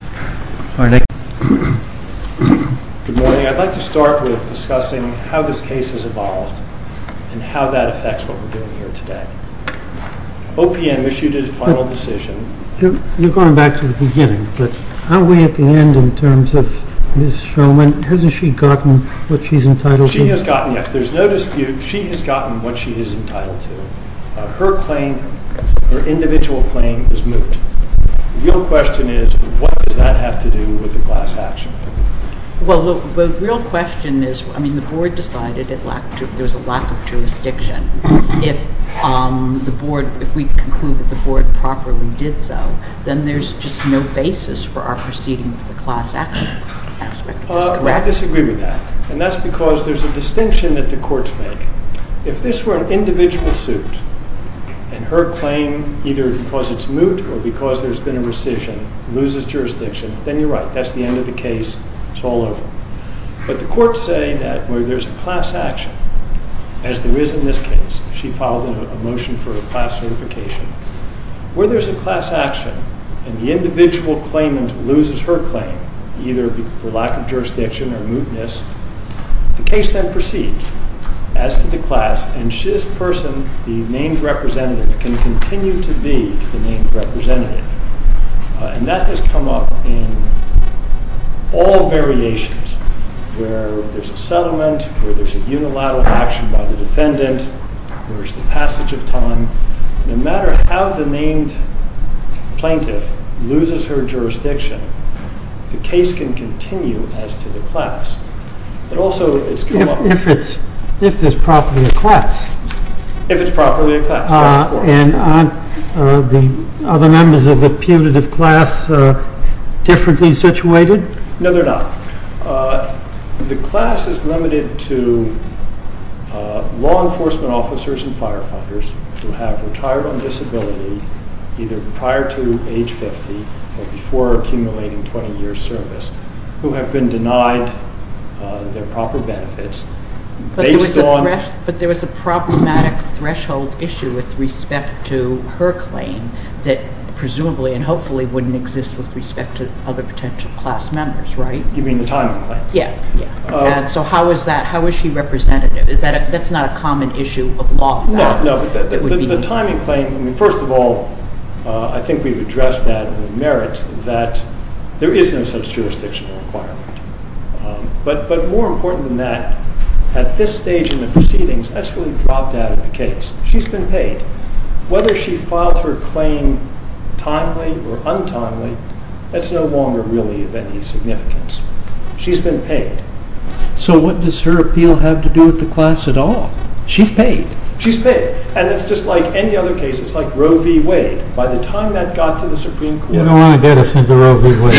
Good morning. I'd like to start with discussing how this case has evolved and how that affects what we're doing here today. OPM issued its final decision. You're going back to the beginning, but aren't we at the end in terms of Ms. Schoeman? Hasn't she gotten what she's entitled to? She has gotten, yes. There's no dispute. She has gotten what she is entitled to. Her claim, her individual claim, is moot. The real question is, what does that have to do with the class action? Well, the real question is, I mean, the board decided there's a lack of jurisdiction. If we conclude that the board properly did so, then there's just no basis for our proceeding with the class action aspect of this case. I disagree with that, and that's because there's a distinction that the courts make. If this were an individual suit and her claim, either because it's moot or because there's been a rescission, loses jurisdiction, then you're right. That's the end of the case. It's all over. But the courts say that where there's a class action, as there is in this case. She filed a motion for a class certification. Where there's a class action and the individual claimant loses her claim, either for lack of jurisdiction or mootness, the case then proceeds. As to the class, and this person, the named representative, can continue to be the named representative. And that has come up in all variations, where there's a settlement, where there's a unilateral action by the defendant, where it's the passage of time. No matter how the named plaintiff loses her jurisdiction, the case can continue as to the class. But also, it's come up. If there's properly a class. If it's properly a class, yes, of course. And aren't the other members of the punitive class differently situated? No, they're not. The class is limited to law enforcement officers and firefighters who have retired on disability, either prior to age 50 or before accumulating 20 years service, who have been denied their status. But there was a problematic threshold issue with respect to her claim that presumably and hopefully wouldn't exist with respect to other potential class members, right? You mean the timing claim? Yeah. Yeah. And so how is that? How is she representative? That's not a common issue of law. No, no. The timing claim, I mean, first of all, I think we've addressed that in the merits that there is no such jurisdictional requirement. But more important than that, at this stage in the proceedings, that's really dropped out of the case. She's been paid. Whether she filed her claim timely or untimely, that's no longer really of any significance. She's been paid. So, what does her appeal have to do with the class at all? She's paid. She's paid. And it's just like any other case. It's like Roe v. Wade. By the time that got to the Supreme Court. You don't want to get us into Roe v. Wade.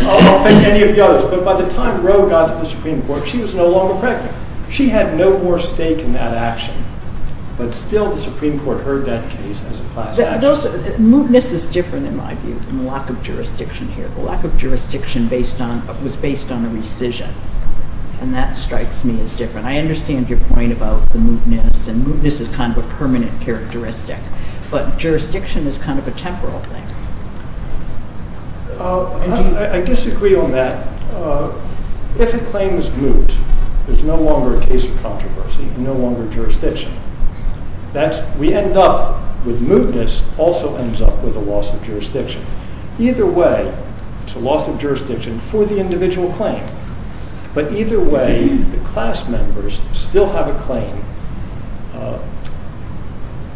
I don't think any of the others. But by the time Roe got to the Supreme Court, she was no longer pregnant. She had no more stake in that action. But still, the Supreme Court heard that case as a class action. Moodness is different, in my view, from the lack of jurisdiction here. The lack of jurisdiction was based on a rescission, and that strikes me as different. I understand your point about the moodness, and moodness is kind of a permanent characteristic. But jurisdiction is kind of a temporal thing. I disagree on that. If a claim is moot, there's no longer a case of controversy, no longer jurisdiction. We end up with moodness also ends up with a loss of jurisdiction. Either way, it's a loss of jurisdiction for the individual claim. But either way, the class members still have a claim,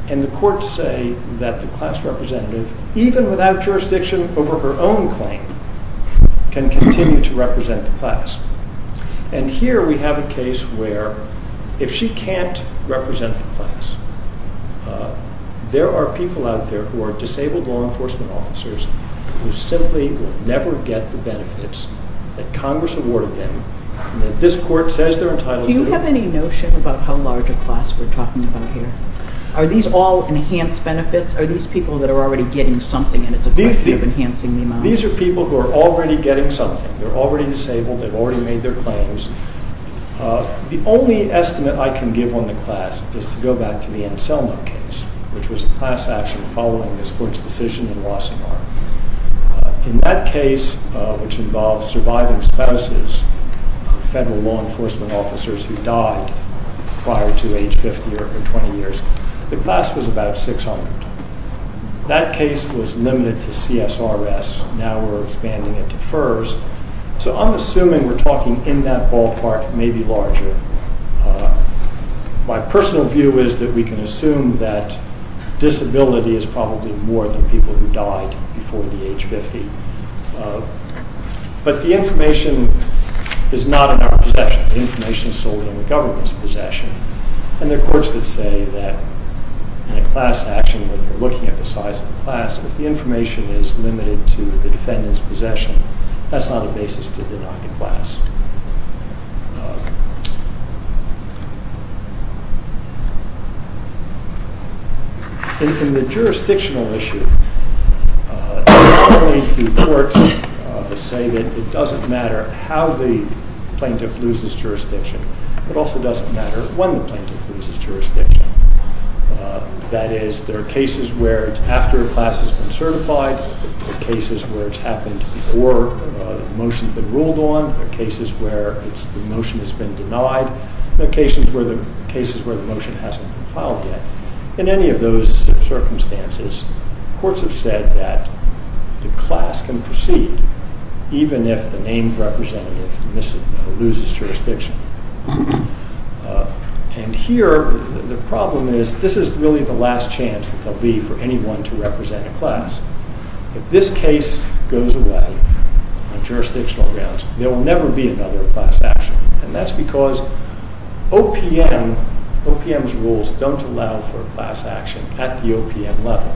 and the courts say that the class representative, even without jurisdiction over her own claim, can continue to represent the class. And here we have a case where if she can't represent the class, there are people out there who are disabled law enforcement officers who simply will never get the benefits that Congress awarded them, and that this court says they're entitled to. Do you have any notion about how large a class we're talking about here? Are these all enhanced benefits? Are these people that are already getting something, and it's a question of enhancing the amount? These are people who are already getting something. They're already disabled. They've already made their claims. The only estimate I can give on the class is to go back to the Anselmo case, which was a class action following this court's decision in Wassenaar. In that case, which involved surviving spouses of federal law enforcement officers who died prior to age 50 or 20 years, the class was about 600. That case was limited to CSRS. Now we're expanding it to FERS. So I'm assuming we're talking in that ballpark, maybe larger. My personal view is that we can assume that disability is probably more than people who died before the age of 50. But the information is not in our possession. The information is solely in the government's possession. And there are courts that say that in a class action, when you're looking at the size of the class, if the information is limited to the defendant's possession, that's not a basis to deny the class. In the jurisdictional issue, not only do courts say that it doesn't matter how the plaintiff loses jurisdiction, it also doesn't matter when the plaintiff loses jurisdiction. That is, there are cases where it's after a class has been certified, there are cases where it's happened before the motion's been ruled on, there are cases where the motion has been denied, and there are cases where the motion hasn't been filed yet. In any of those circumstances, courts have said that the class can proceed even if the named representative loses jurisdiction. And here, the problem is, this is really the last chance that there will be for anyone to represent a class. If this case goes away on jurisdictional grounds, there will never be another class action. And that's because OPM's rules don't allow for a class action at the OPM level.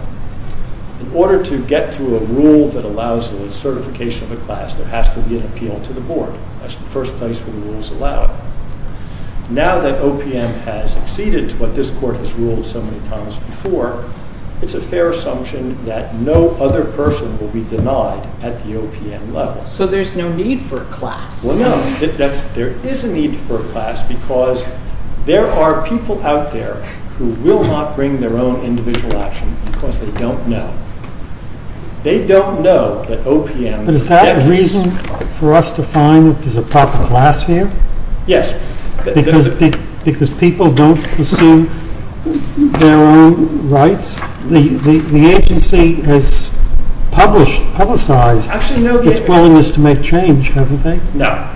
In order to get to a rule that allows the certification of a class, there has to be an appeal to the Board. That's the first place where the rules allow it. Now that OPM has acceded to what this Court has ruled so many times before, it's a fair assumption that no other person will be denied at the OPM level. So there's no need for a class? Well, no. There is a need for a class because there are people out there who will not bring their own individual action because they don't know. They don't know that OPM... But is that a reason for us to find that there's a proper class here? Yes. Because people don't pursue their own rights? The agency has publicized its willingness to make change, haven't they? No.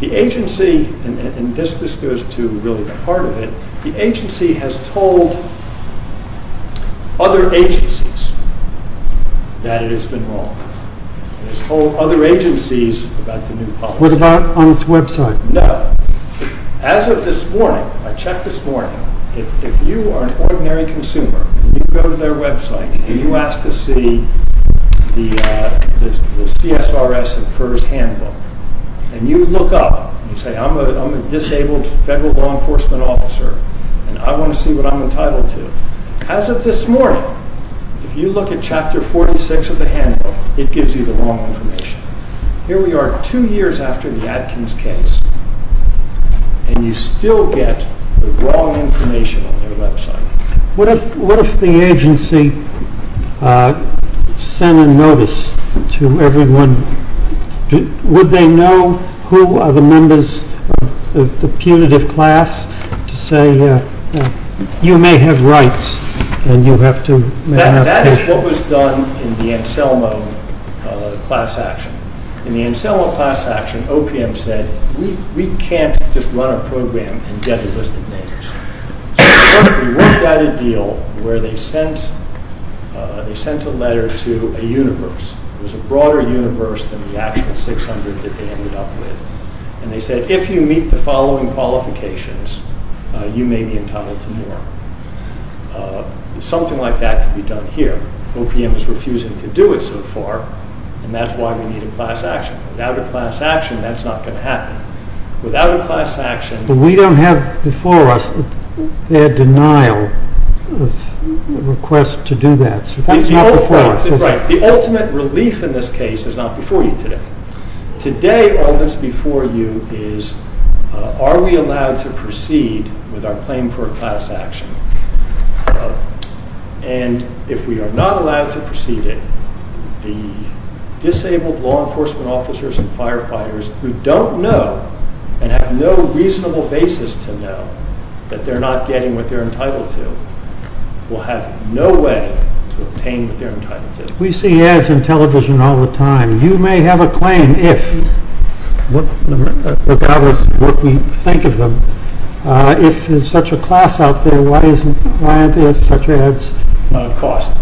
The agency, and this goes to really the heart of it, the agency has told other agencies that it has been wrong. It has told other agencies about the new policy. What about on its website? No. As of this morning, I checked this morning, if you are an ordinary consumer, you go to their website and you ask to see the CSRS and FERS handbook, and you look up and say, I'm a disabled federal law enforcement officer and I want to see what I'm entitled to. As of this morning, if you look at Chapter 46 of the handbook, it gives you the wrong information. Here we are two years after the Atkins case, and you still get the wrong information on their website. What if the agency sent a notice to everyone? Would they know who are the members of the punitive class to say, you may have rights and you have to... That is what was done in the Anselmo class action. In the Anselmo class action, OPM said, we can't just run a program and get a list of names. So we worked out a deal where they sent a letter to a universe, it was a broader universe than the actual 600 that they ended up with, and they said, if you meet the following qualifications, you may be entitled to more. Something like that can be done here. OPM is refusing to do it so far, and that is why we need a class action. Without a class action, that is not going to happen. Without a class action... But we don't have before us their denial of request to do that. That is not before us. Right. The ultimate relief in this case is not before you today. Today, all that is before you is, are we allowed to proceed with our claim for a class action? And if we are not allowed to proceed it, the disabled law enforcement officers and firefighters who don't know and have no reasonable basis to know that they are not getting what they are entitled to, will have no way to obtain what they are entitled to. We see ads on television all the time. You may have a claim, regardless of what we think of them. If there is such a class out there, why aren't there such ads? Cost.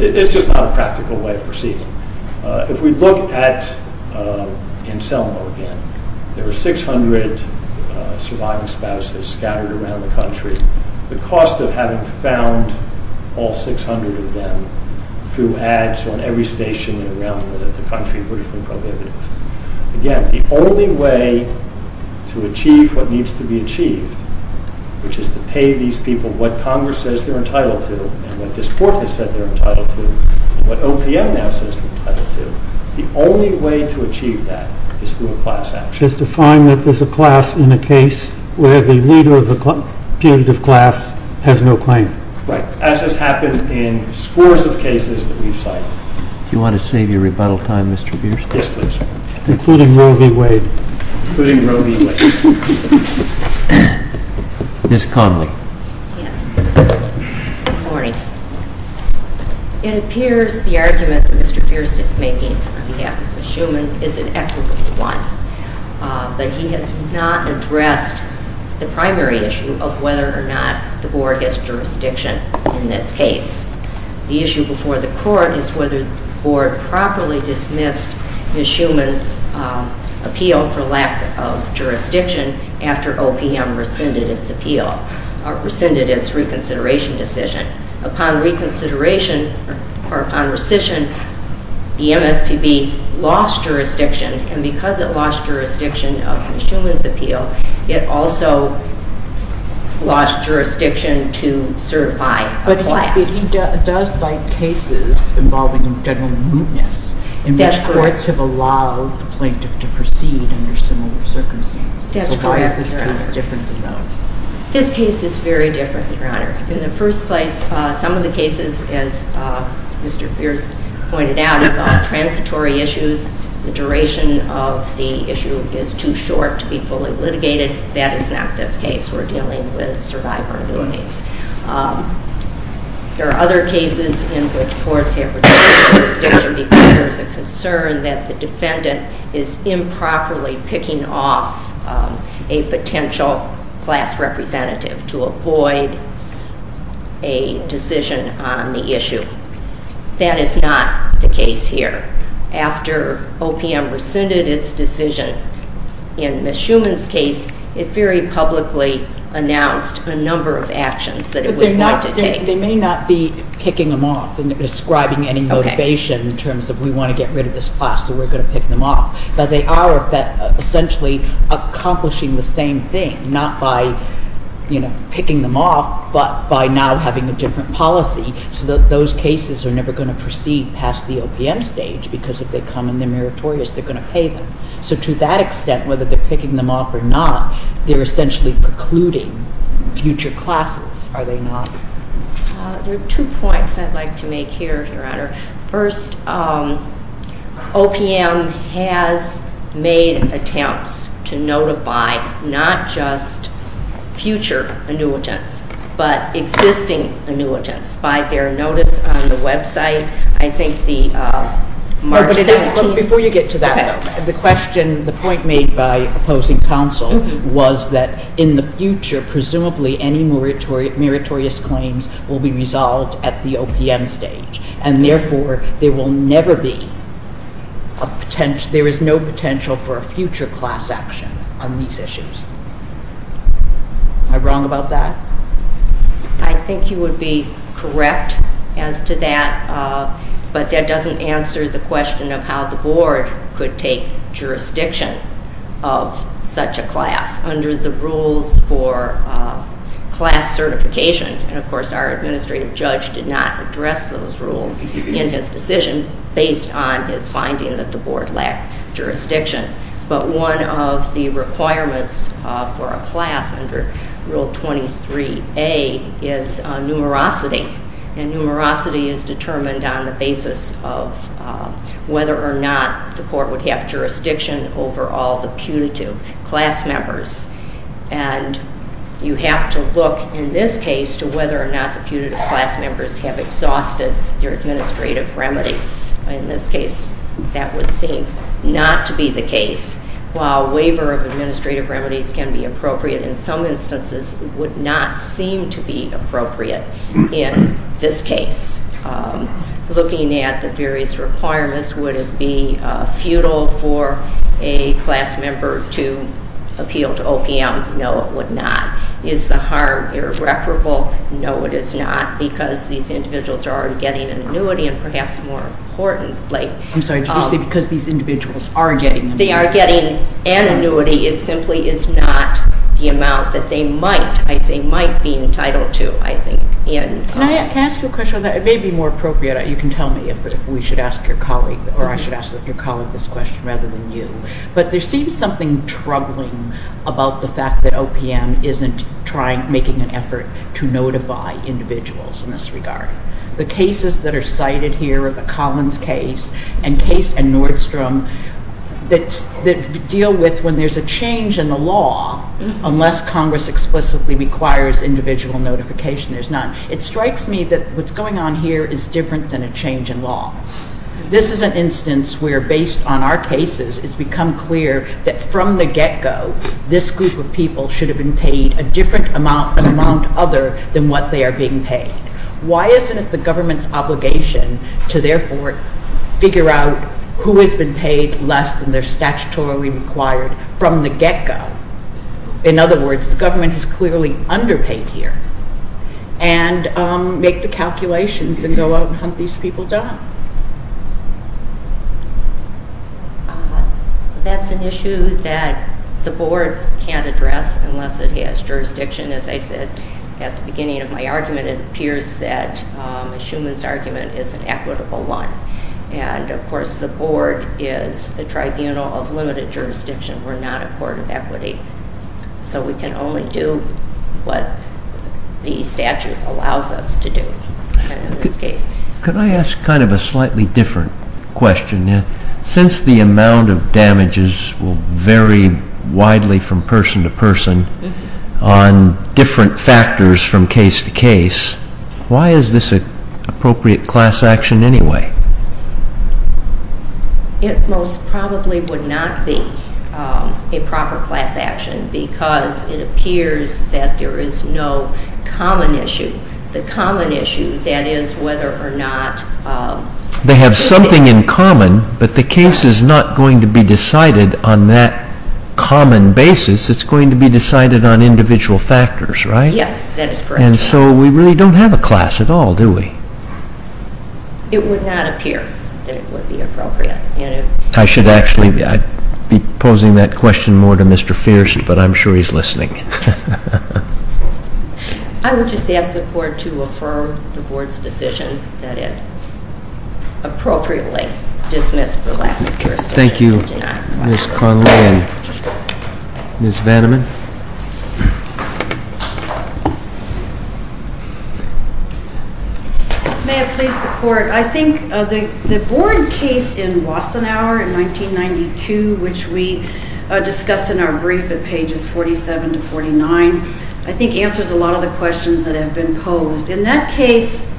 It is just not a practical way of proceeding. If we look at in Selma again, there are 600 surviving spouses scattered around the country. The cost of having found all 600 of them through ads on every station around the country would have been prohibitive. Again, the only way to achieve what needs to be achieved, which is to pay these people what Congress says they are entitled to, and what this Court has said they are entitled to, and what OPM now says they are entitled to, the only way to achieve that is through a class action. Which is to find that there is a class in a case where the leader of the punitive class has no claim. Right. As has happened in scores of cases that we have cited. Do you want to save your rebuttal time, Mr. Bierstadt? Yes, please. Including Roe v. Wade. Including Roe v. Wade. Ms. Connelly. Yes. Good morning. It appears the argument that Mr. Bierstadt is making on behalf of Ms. Shuman is an equitable one. But he has not addressed the primary issue of whether or not the Board has jurisdiction in this case. The issue before the Court is whether the Board properly dismissed Ms. Shuman's appeal for lack of jurisdiction after OPM rescinded its appeal, or rescinded its reconsideration decision. Upon reconsideration, or upon rescission, the MSPB lost jurisdiction. And because it lost jurisdiction of Ms. Shuman's appeal, it also lost jurisdiction to certify a class. But he does cite cases involving general mootness. That's correct. In which courts have allowed the plaintiff to proceed under similar circumstances. That's correct, Your Honor. So why is this case different than those? This case is very different, Your Honor. In the first place, some of the cases, as Mr. Pierce pointed out, involve transitory issues. The duration of the issue is too short to be fully litigated. That is not this case. We're dealing with a survivor case. There are other cases in which courts have retained jurisdiction because there is a concern that the defendant is improperly picking off a potential class representative to avoid a decision on the issue. That is not the case here. After OPM rescinded its decision in Ms. Shuman's case, it very publicly announced a number of actions that it was not to take. They may not be picking them off and describing any motivation in terms of we want to get rid of this class, so we're going to pick them off. But they are essentially accomplishing the same thing. Not by picking them off, but by now having a different policy. So those cases are never going to proceed past the OPM stage because if they come and they're meritorious, they're going to pay them. So to that extent, whether they're picking them off or not, they're essentially precluding future classes, are they not? There are two points I'd like to make here, Your Honor. First, OPM has made attempts to notify not just future annuitants, but existing annuitants by their notice on the website. I think the March 17th... Before you get to that, though, the question, the point made by opposing counsel was that in the future, presumably, any meritorious claims will be resolved at the OPM stage. And therefore, there will never be a potential... There is no potential for a future class action on these issues. Am I wrong about that? I think you would be correct as to that. But that doesn't answer the question of how the board could take jurisdiction of such a class under the rules for class certification. And of course, our administrative judge did not address those rules in his decision based on his finding that the board lacked jurisdiction. But one of the requirements for a class under Rule 23A is numerosity. And numerosity is determined on the basis of whether or not the court would have jurisdiction over all the punitive class members. And you have to look, in this case, to whether or not the punitive class members have exhausted their administrative remedies. In this case, that would seem not to be the case. While a waiver of administrative remedies can be appropriate, in some instances it would not seem to be appropriate in this case. Looking at the various requirements, would it be futile for a class member to appeal to OPM? No, it would not. Is the harm irreparable? No, it is not, because these individuals are already getting an annuity and perhaps more importantly- I'm sorry, did you say because these individuals are getting an annuity? They are getting an annuity. It simply is not the amount that they might, I say might, be entitled to, I think. Can I ask you a question on that? It may be more appropriate. You can tell me if we should ask your colleague, or I should ask your colleague this question rather than you. But there seems something troubling about the fact that OPM isn't making an effort to notify individuals in this regard. The cases that are cited here are the Collins case and Nordstrom that deal with when there's a change in the law, unless Congress explicitly requires individual notification, there's none. It strikes me that what's going on here is different than a change in law. This is an instance where, based on our cases, it's become clear that from the get-go, this group of people should have been paid a different amount and amount other than what they are being paid. Why isn't it the government's obligation to therefore figure out who has been paid less than they're statutorily required from the get-go? In other words, the government is clearly underpaid here and make the calculations and go out and hunt these people down. That's an issue that the board can't address unless it has jurisdiction. As I said at the beginning of my argument, it appears that Schuman's argument is an equitable one. And, of course, the board is a tribunal of limited jurisdiction. We're not a court of equity. So we can only do what the statute allows us to do in this case. Can I ask kind of a slightly different question? Since the amount of damages will vary widely from person to person on different factors from case to case, why is this an appropriate class action anyway? It most probably would not be a proper class action because it appears that there is no common issue. The common issue, that is whether or not... They have something in common, but the case is not going to be decided on that common basis. It's going to be decided on individual factors, right? Yes, that is correct. And so we really don't have a class at all, do we? It would not appear that it would be appropriate. I should actually be posing that question more to Mr. Fierst, but I'm sure he's listening. I would just ask the court to affirm the board's decision that it appropriately dismissed the lack of jurisdiction. Thank you, Ms. Connelly and Ms. Vanneman. May it please the court. I think the board case in Wassenaar in 1992, which we discussed in our brief at pages 47 to 49, I think answers a lot of the questions that have been posed. In that case,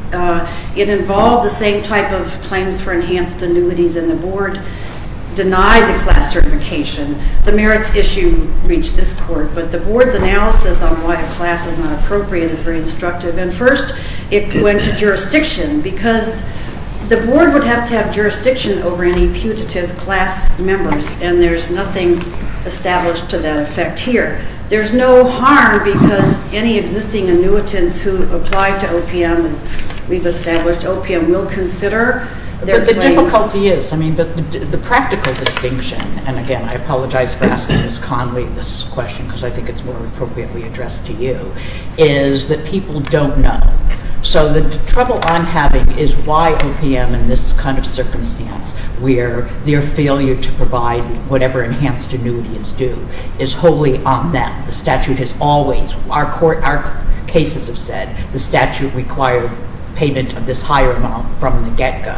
it involved the same type of claims for enhanced annuities, and the board denied the class certification. The merits issue reached this court. But the board's analysis on why a class is not appropriate is very instructive. And first, it went to jurisdiction because the board would have to have jurisdiction over any putative class members, and there's nothing established to that effect here. There's no harm because any existing annuitants who apply to OPM, as we've established, OPM will consider their claims. But the difficulty is, I mean, the practical distinction, and again, I apologize for asking Ms. Connelly this question because I think it's more appropriately addressed to you, is that people don't know. So the trouble I'm having is why OPM, in this kind of circumstance, where their failure to provide whatever enhanced annuity is due, is wholly on them. The statute has always, our cases have said, the statute required payment of this higher amount from the get-go.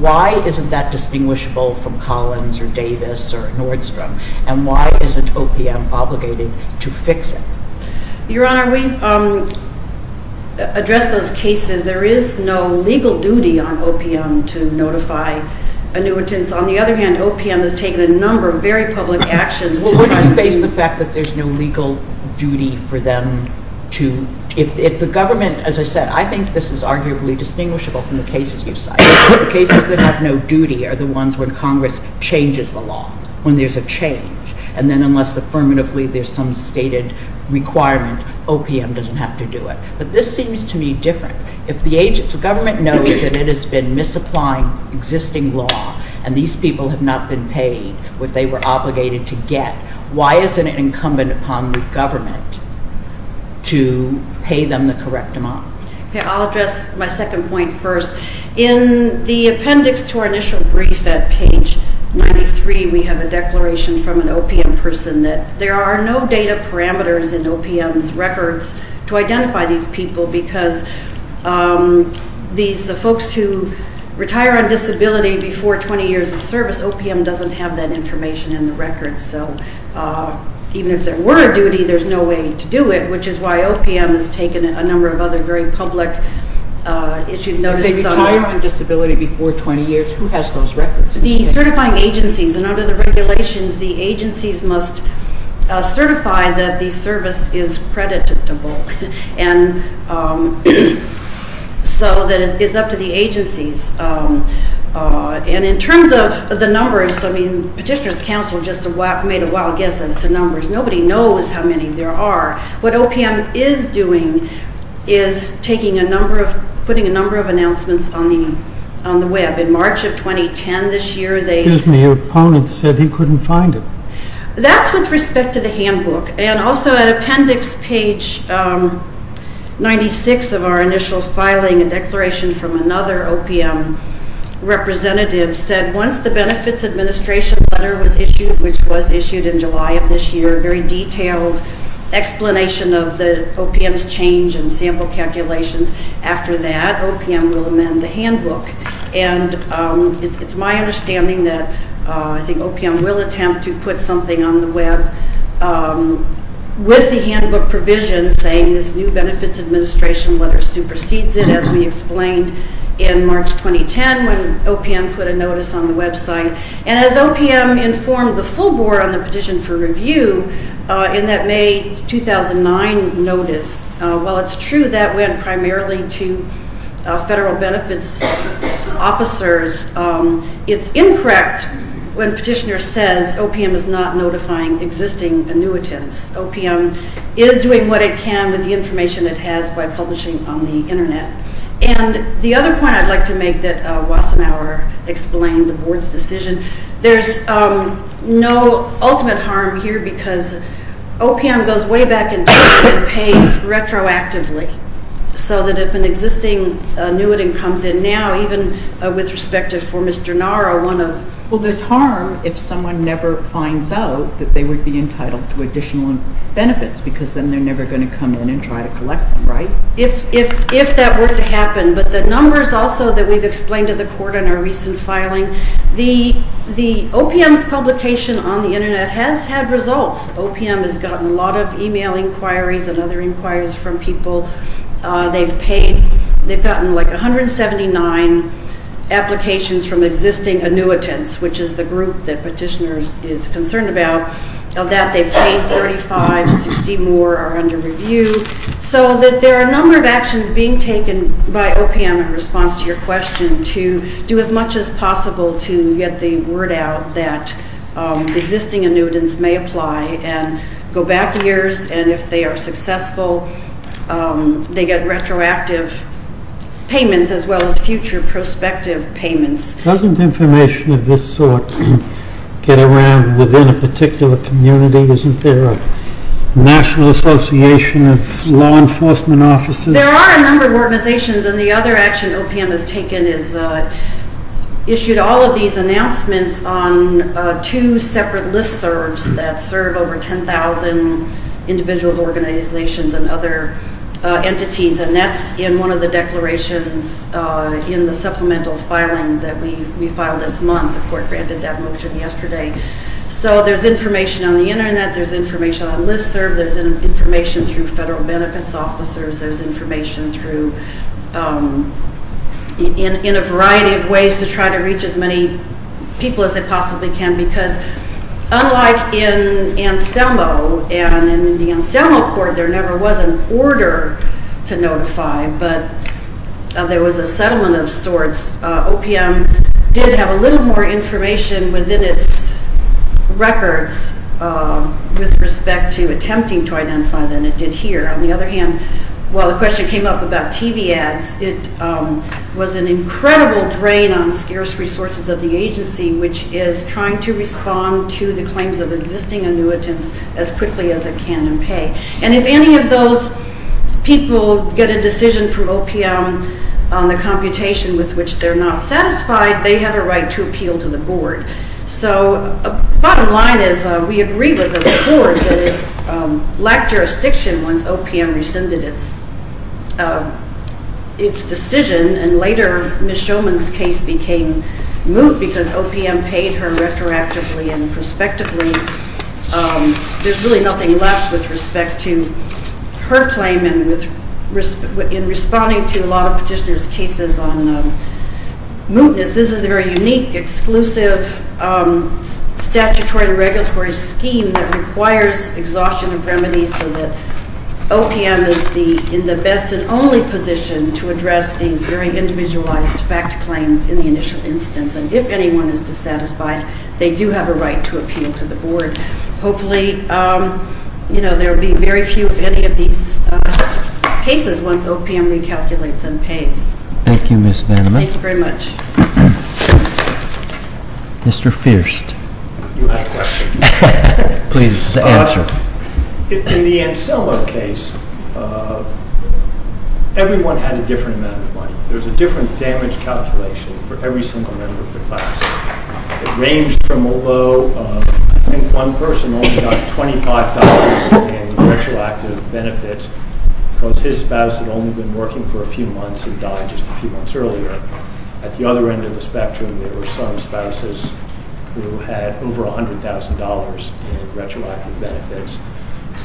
Why isn't that distinguishable from Collins or Davis or Nordstrom? And why isn't OPM obligated to fix it? Your Honor, we've addressed those cases. There is no legal duty on OPM to notify annuitants. On the other hand, OPM has taken a number of very public actions to try and do... Well, wouldn't you base the fact that there's no legal duty for them to... If the government, as I said, I think this is arguably distinguishable from the cases you've cited. Cases that have no duty are the ones when Congress changes the law, when there's a change. And then unless affirmatively there's some stated requirement, OPM doesn't have to do it. But this seems to me different. If the government knows that it has been misapplying existing law and these people have not been paid what they were obligated to get, why isn't it incumbent upon the government to pay them the correct amount? Okay, I'll address my second point first. In the appendix to our initial brief at page 93, we have a declaration from an OPM person that there are no data parameters in OPM's records to identify these people because these folks who retire on disability before 20 years of service, OPM doesn't have that information in the records. So even if there were a duty, there's no way to do it, which is why OPM has taken a number of other very public issues. If they retire on disability before 20 years, who has those records? The certifying agencies, and under the regulations the agencies must certify that the service is creditable and so that it's up to the agencies. And in terms of the numbers, I mean Petitioner's Council just made a wild guess as to numbers. Nobody knows how many there are. What OPM is doing is taking a number of, putting a number of announcements on the web. In March of 2010 this year, they... Excuse me, your opponent said he couldn't find it. That's with respect to the handbook and also at appendix page 96 of our initial filing and declaration from another OPM representative said once the Benefits Administration letter was issued, which was issued in July of this year, a very detailed explanation of the OPM's change and sample calculations. After that, OPM will amend the handbook. And it's my understanding that I think OPM will attempt to put something on the web with the handbook provision saying this new Benefits Administration letter supersedes it as we explained in March 2010 when OPM put a notice on the website. And as OPM informed the full board on the petition for review in that May 2009 notice, while it's true that went primarily to federal benefits officers, it's incorrect when petitioner says OPM is not notifying existing annuitants. OPM is doing what it can with the information it has by publishing on the internet. And the other point I'd like to make that Wassenauer explained, the board's decision, there's no ultimate harm here because OPM goes way back and pays retroactively so that if an existing annuitant comes in now, even with respect for Mr. Nara, one of... Well, there's harm if someone never finds out that they would be entitled to additional benefits because then they're never going to come in and try to collect them, right? If that were to happen, but the numbers also that we've explained to the court in our recent filing, the OPM's publication on the internet has had results. OPM has gotten a lot of email inquiries and other inquiries from people. They've paid... They've gotten, like, 179 applications from existing annuitants, which is the group that petitioners is concerned about. Of that, they've paid 35, 60 more are under review. So that there are a number of actions by OPM in response to your question to do as much as possible to get the word out that existing annuitants may apply and go back a year and if they are successful, they get retroactive payments as well as future prospective payments. Doesn't information of this sort get around within a particular community? Isn't there a national association of law enforcement officers? There are a number of organizations and the other action OPM has taken is issued all of these announcements on two separate listservs that serve over 10,000 individuals, organizations and other entities and that's in one of the declarations in the supplemental filing that we filed this month. The court granted that motion yesterday. So there's information on the internet, there's information on listserv, there's information through federal benefits officers, there's information through in a variety of ways to try to reach as many people as they possibly can because unlike in Anselmo and in the Anselmo court there never was an order to notify but there was a settlement of sorts. OPM did have a little more information within its records with respect to attempting to identify than it did here. On the other hand while the question came up about TV ads it was an incredible drain on scarce resources of the state. that it would not appeal to the claims of existing annuitants as quickly as it can and pay. And if any of those people get a decision from OPM on the computation with which they're not satisfied they have a right to appeal to the board. So the bottom line is we agree with the board that it lacked jurisdiction once OPM rescinded its decision and later Ms. Shoman's case became moot because OPM paid her retroactively and mootness. This is a very unique exclusive statutory regulatory scheme that requires exhaustion of remedies so that OPM is in the best and only position to address these very individualized fact claims in the initial instance and if anyone is dissatisfied they do have a right to appeal to the board. Hopefully there will be very few of any of these cases once OPM recalculates and pays. Thank you Ms. Vanaman. Thank you very much. Mr. Fierst. You have a question. Please answer. In the range from although I think one person only got $25 in retroactive benefits because his spouse had only been working for a few months and died just a few months earlier at the other end of the spectrum there were some spouses who had over $100,000 in retroactive benefits. that's a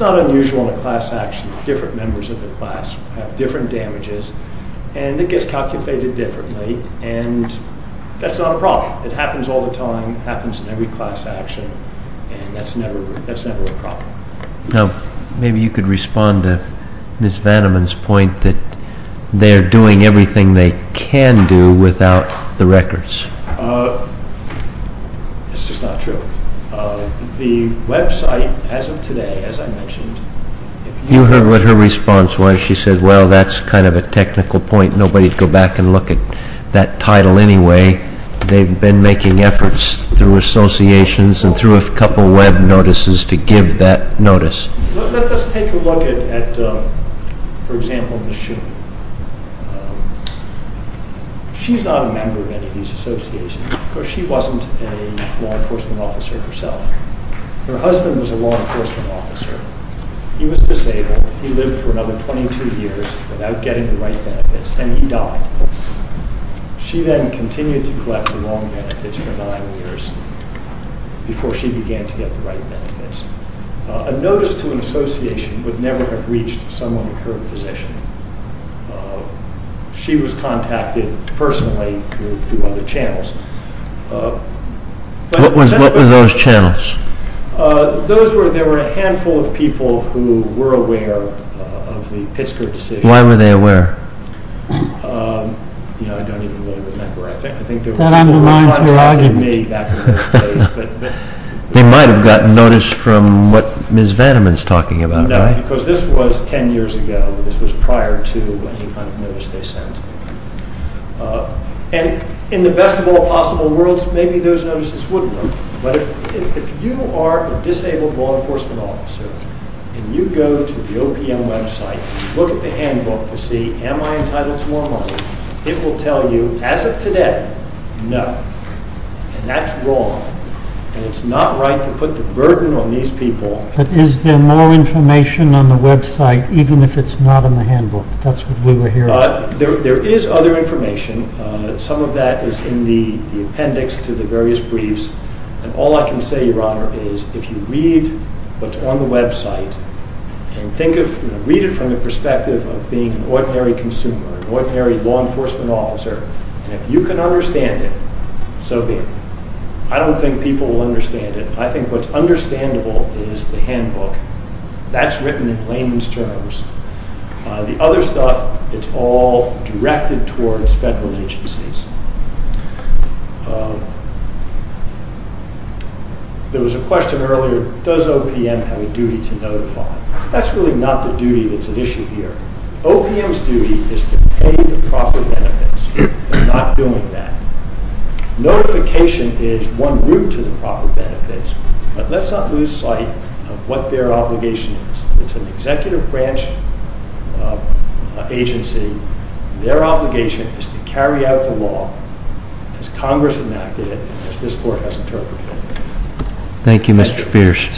problem. I think it happens in every class actually and that's never a problem. Maybe you could respond to Ms. Vanaman's point that they are doing everything they can do without the records. It's just not true. The website as of today as I mentioned you heard her response why she said well that's kind of a technical point. Nobody would go back and look at that title anyway. They've been making efforts through associations and through a couple web notices to give that notice. Let's take a look at for example Ms. Schumann. She's not a member of any of these associations because she wasn't a law enforcement officer herself. Her husband was a law enforcement officer. He was disabled. He lived for another 22 years without getting the right benefits and he died. She then continued to collect the wrong benefits. and she became an associate for law enforcement officers. And she later became a member of the Association of Disabled Law Enforcement Officers. And you go to the OPM website, look at the handbook to see am I entitled to more money. It will tell you as of today, no. And that's wrong. And it's not right to put the money into the various briefs. And all I can say your honor, is if you read what's on the website and read it from the perspective of being an ordinary consumer, an ordinary law enforcement officer, and if you can understand it, so be it. I don't think people will understand it. I think what's understandable is the handbook. That's written in layman's terms. The other stuff, it's all directed towards federal agencies. There was a question earlier, does OPM have a duty to notify? That's really not the duty that's at issue here. OPM's duty is to pay the proper benefits. Not doing that. Notification is one route to the proper benefits, but let's not lose sight of what their obligation is. It's an executive branch agency. Their obligation is to carry out the law as Congress enacted it, as this court has interpreted it. Thank you, Mr.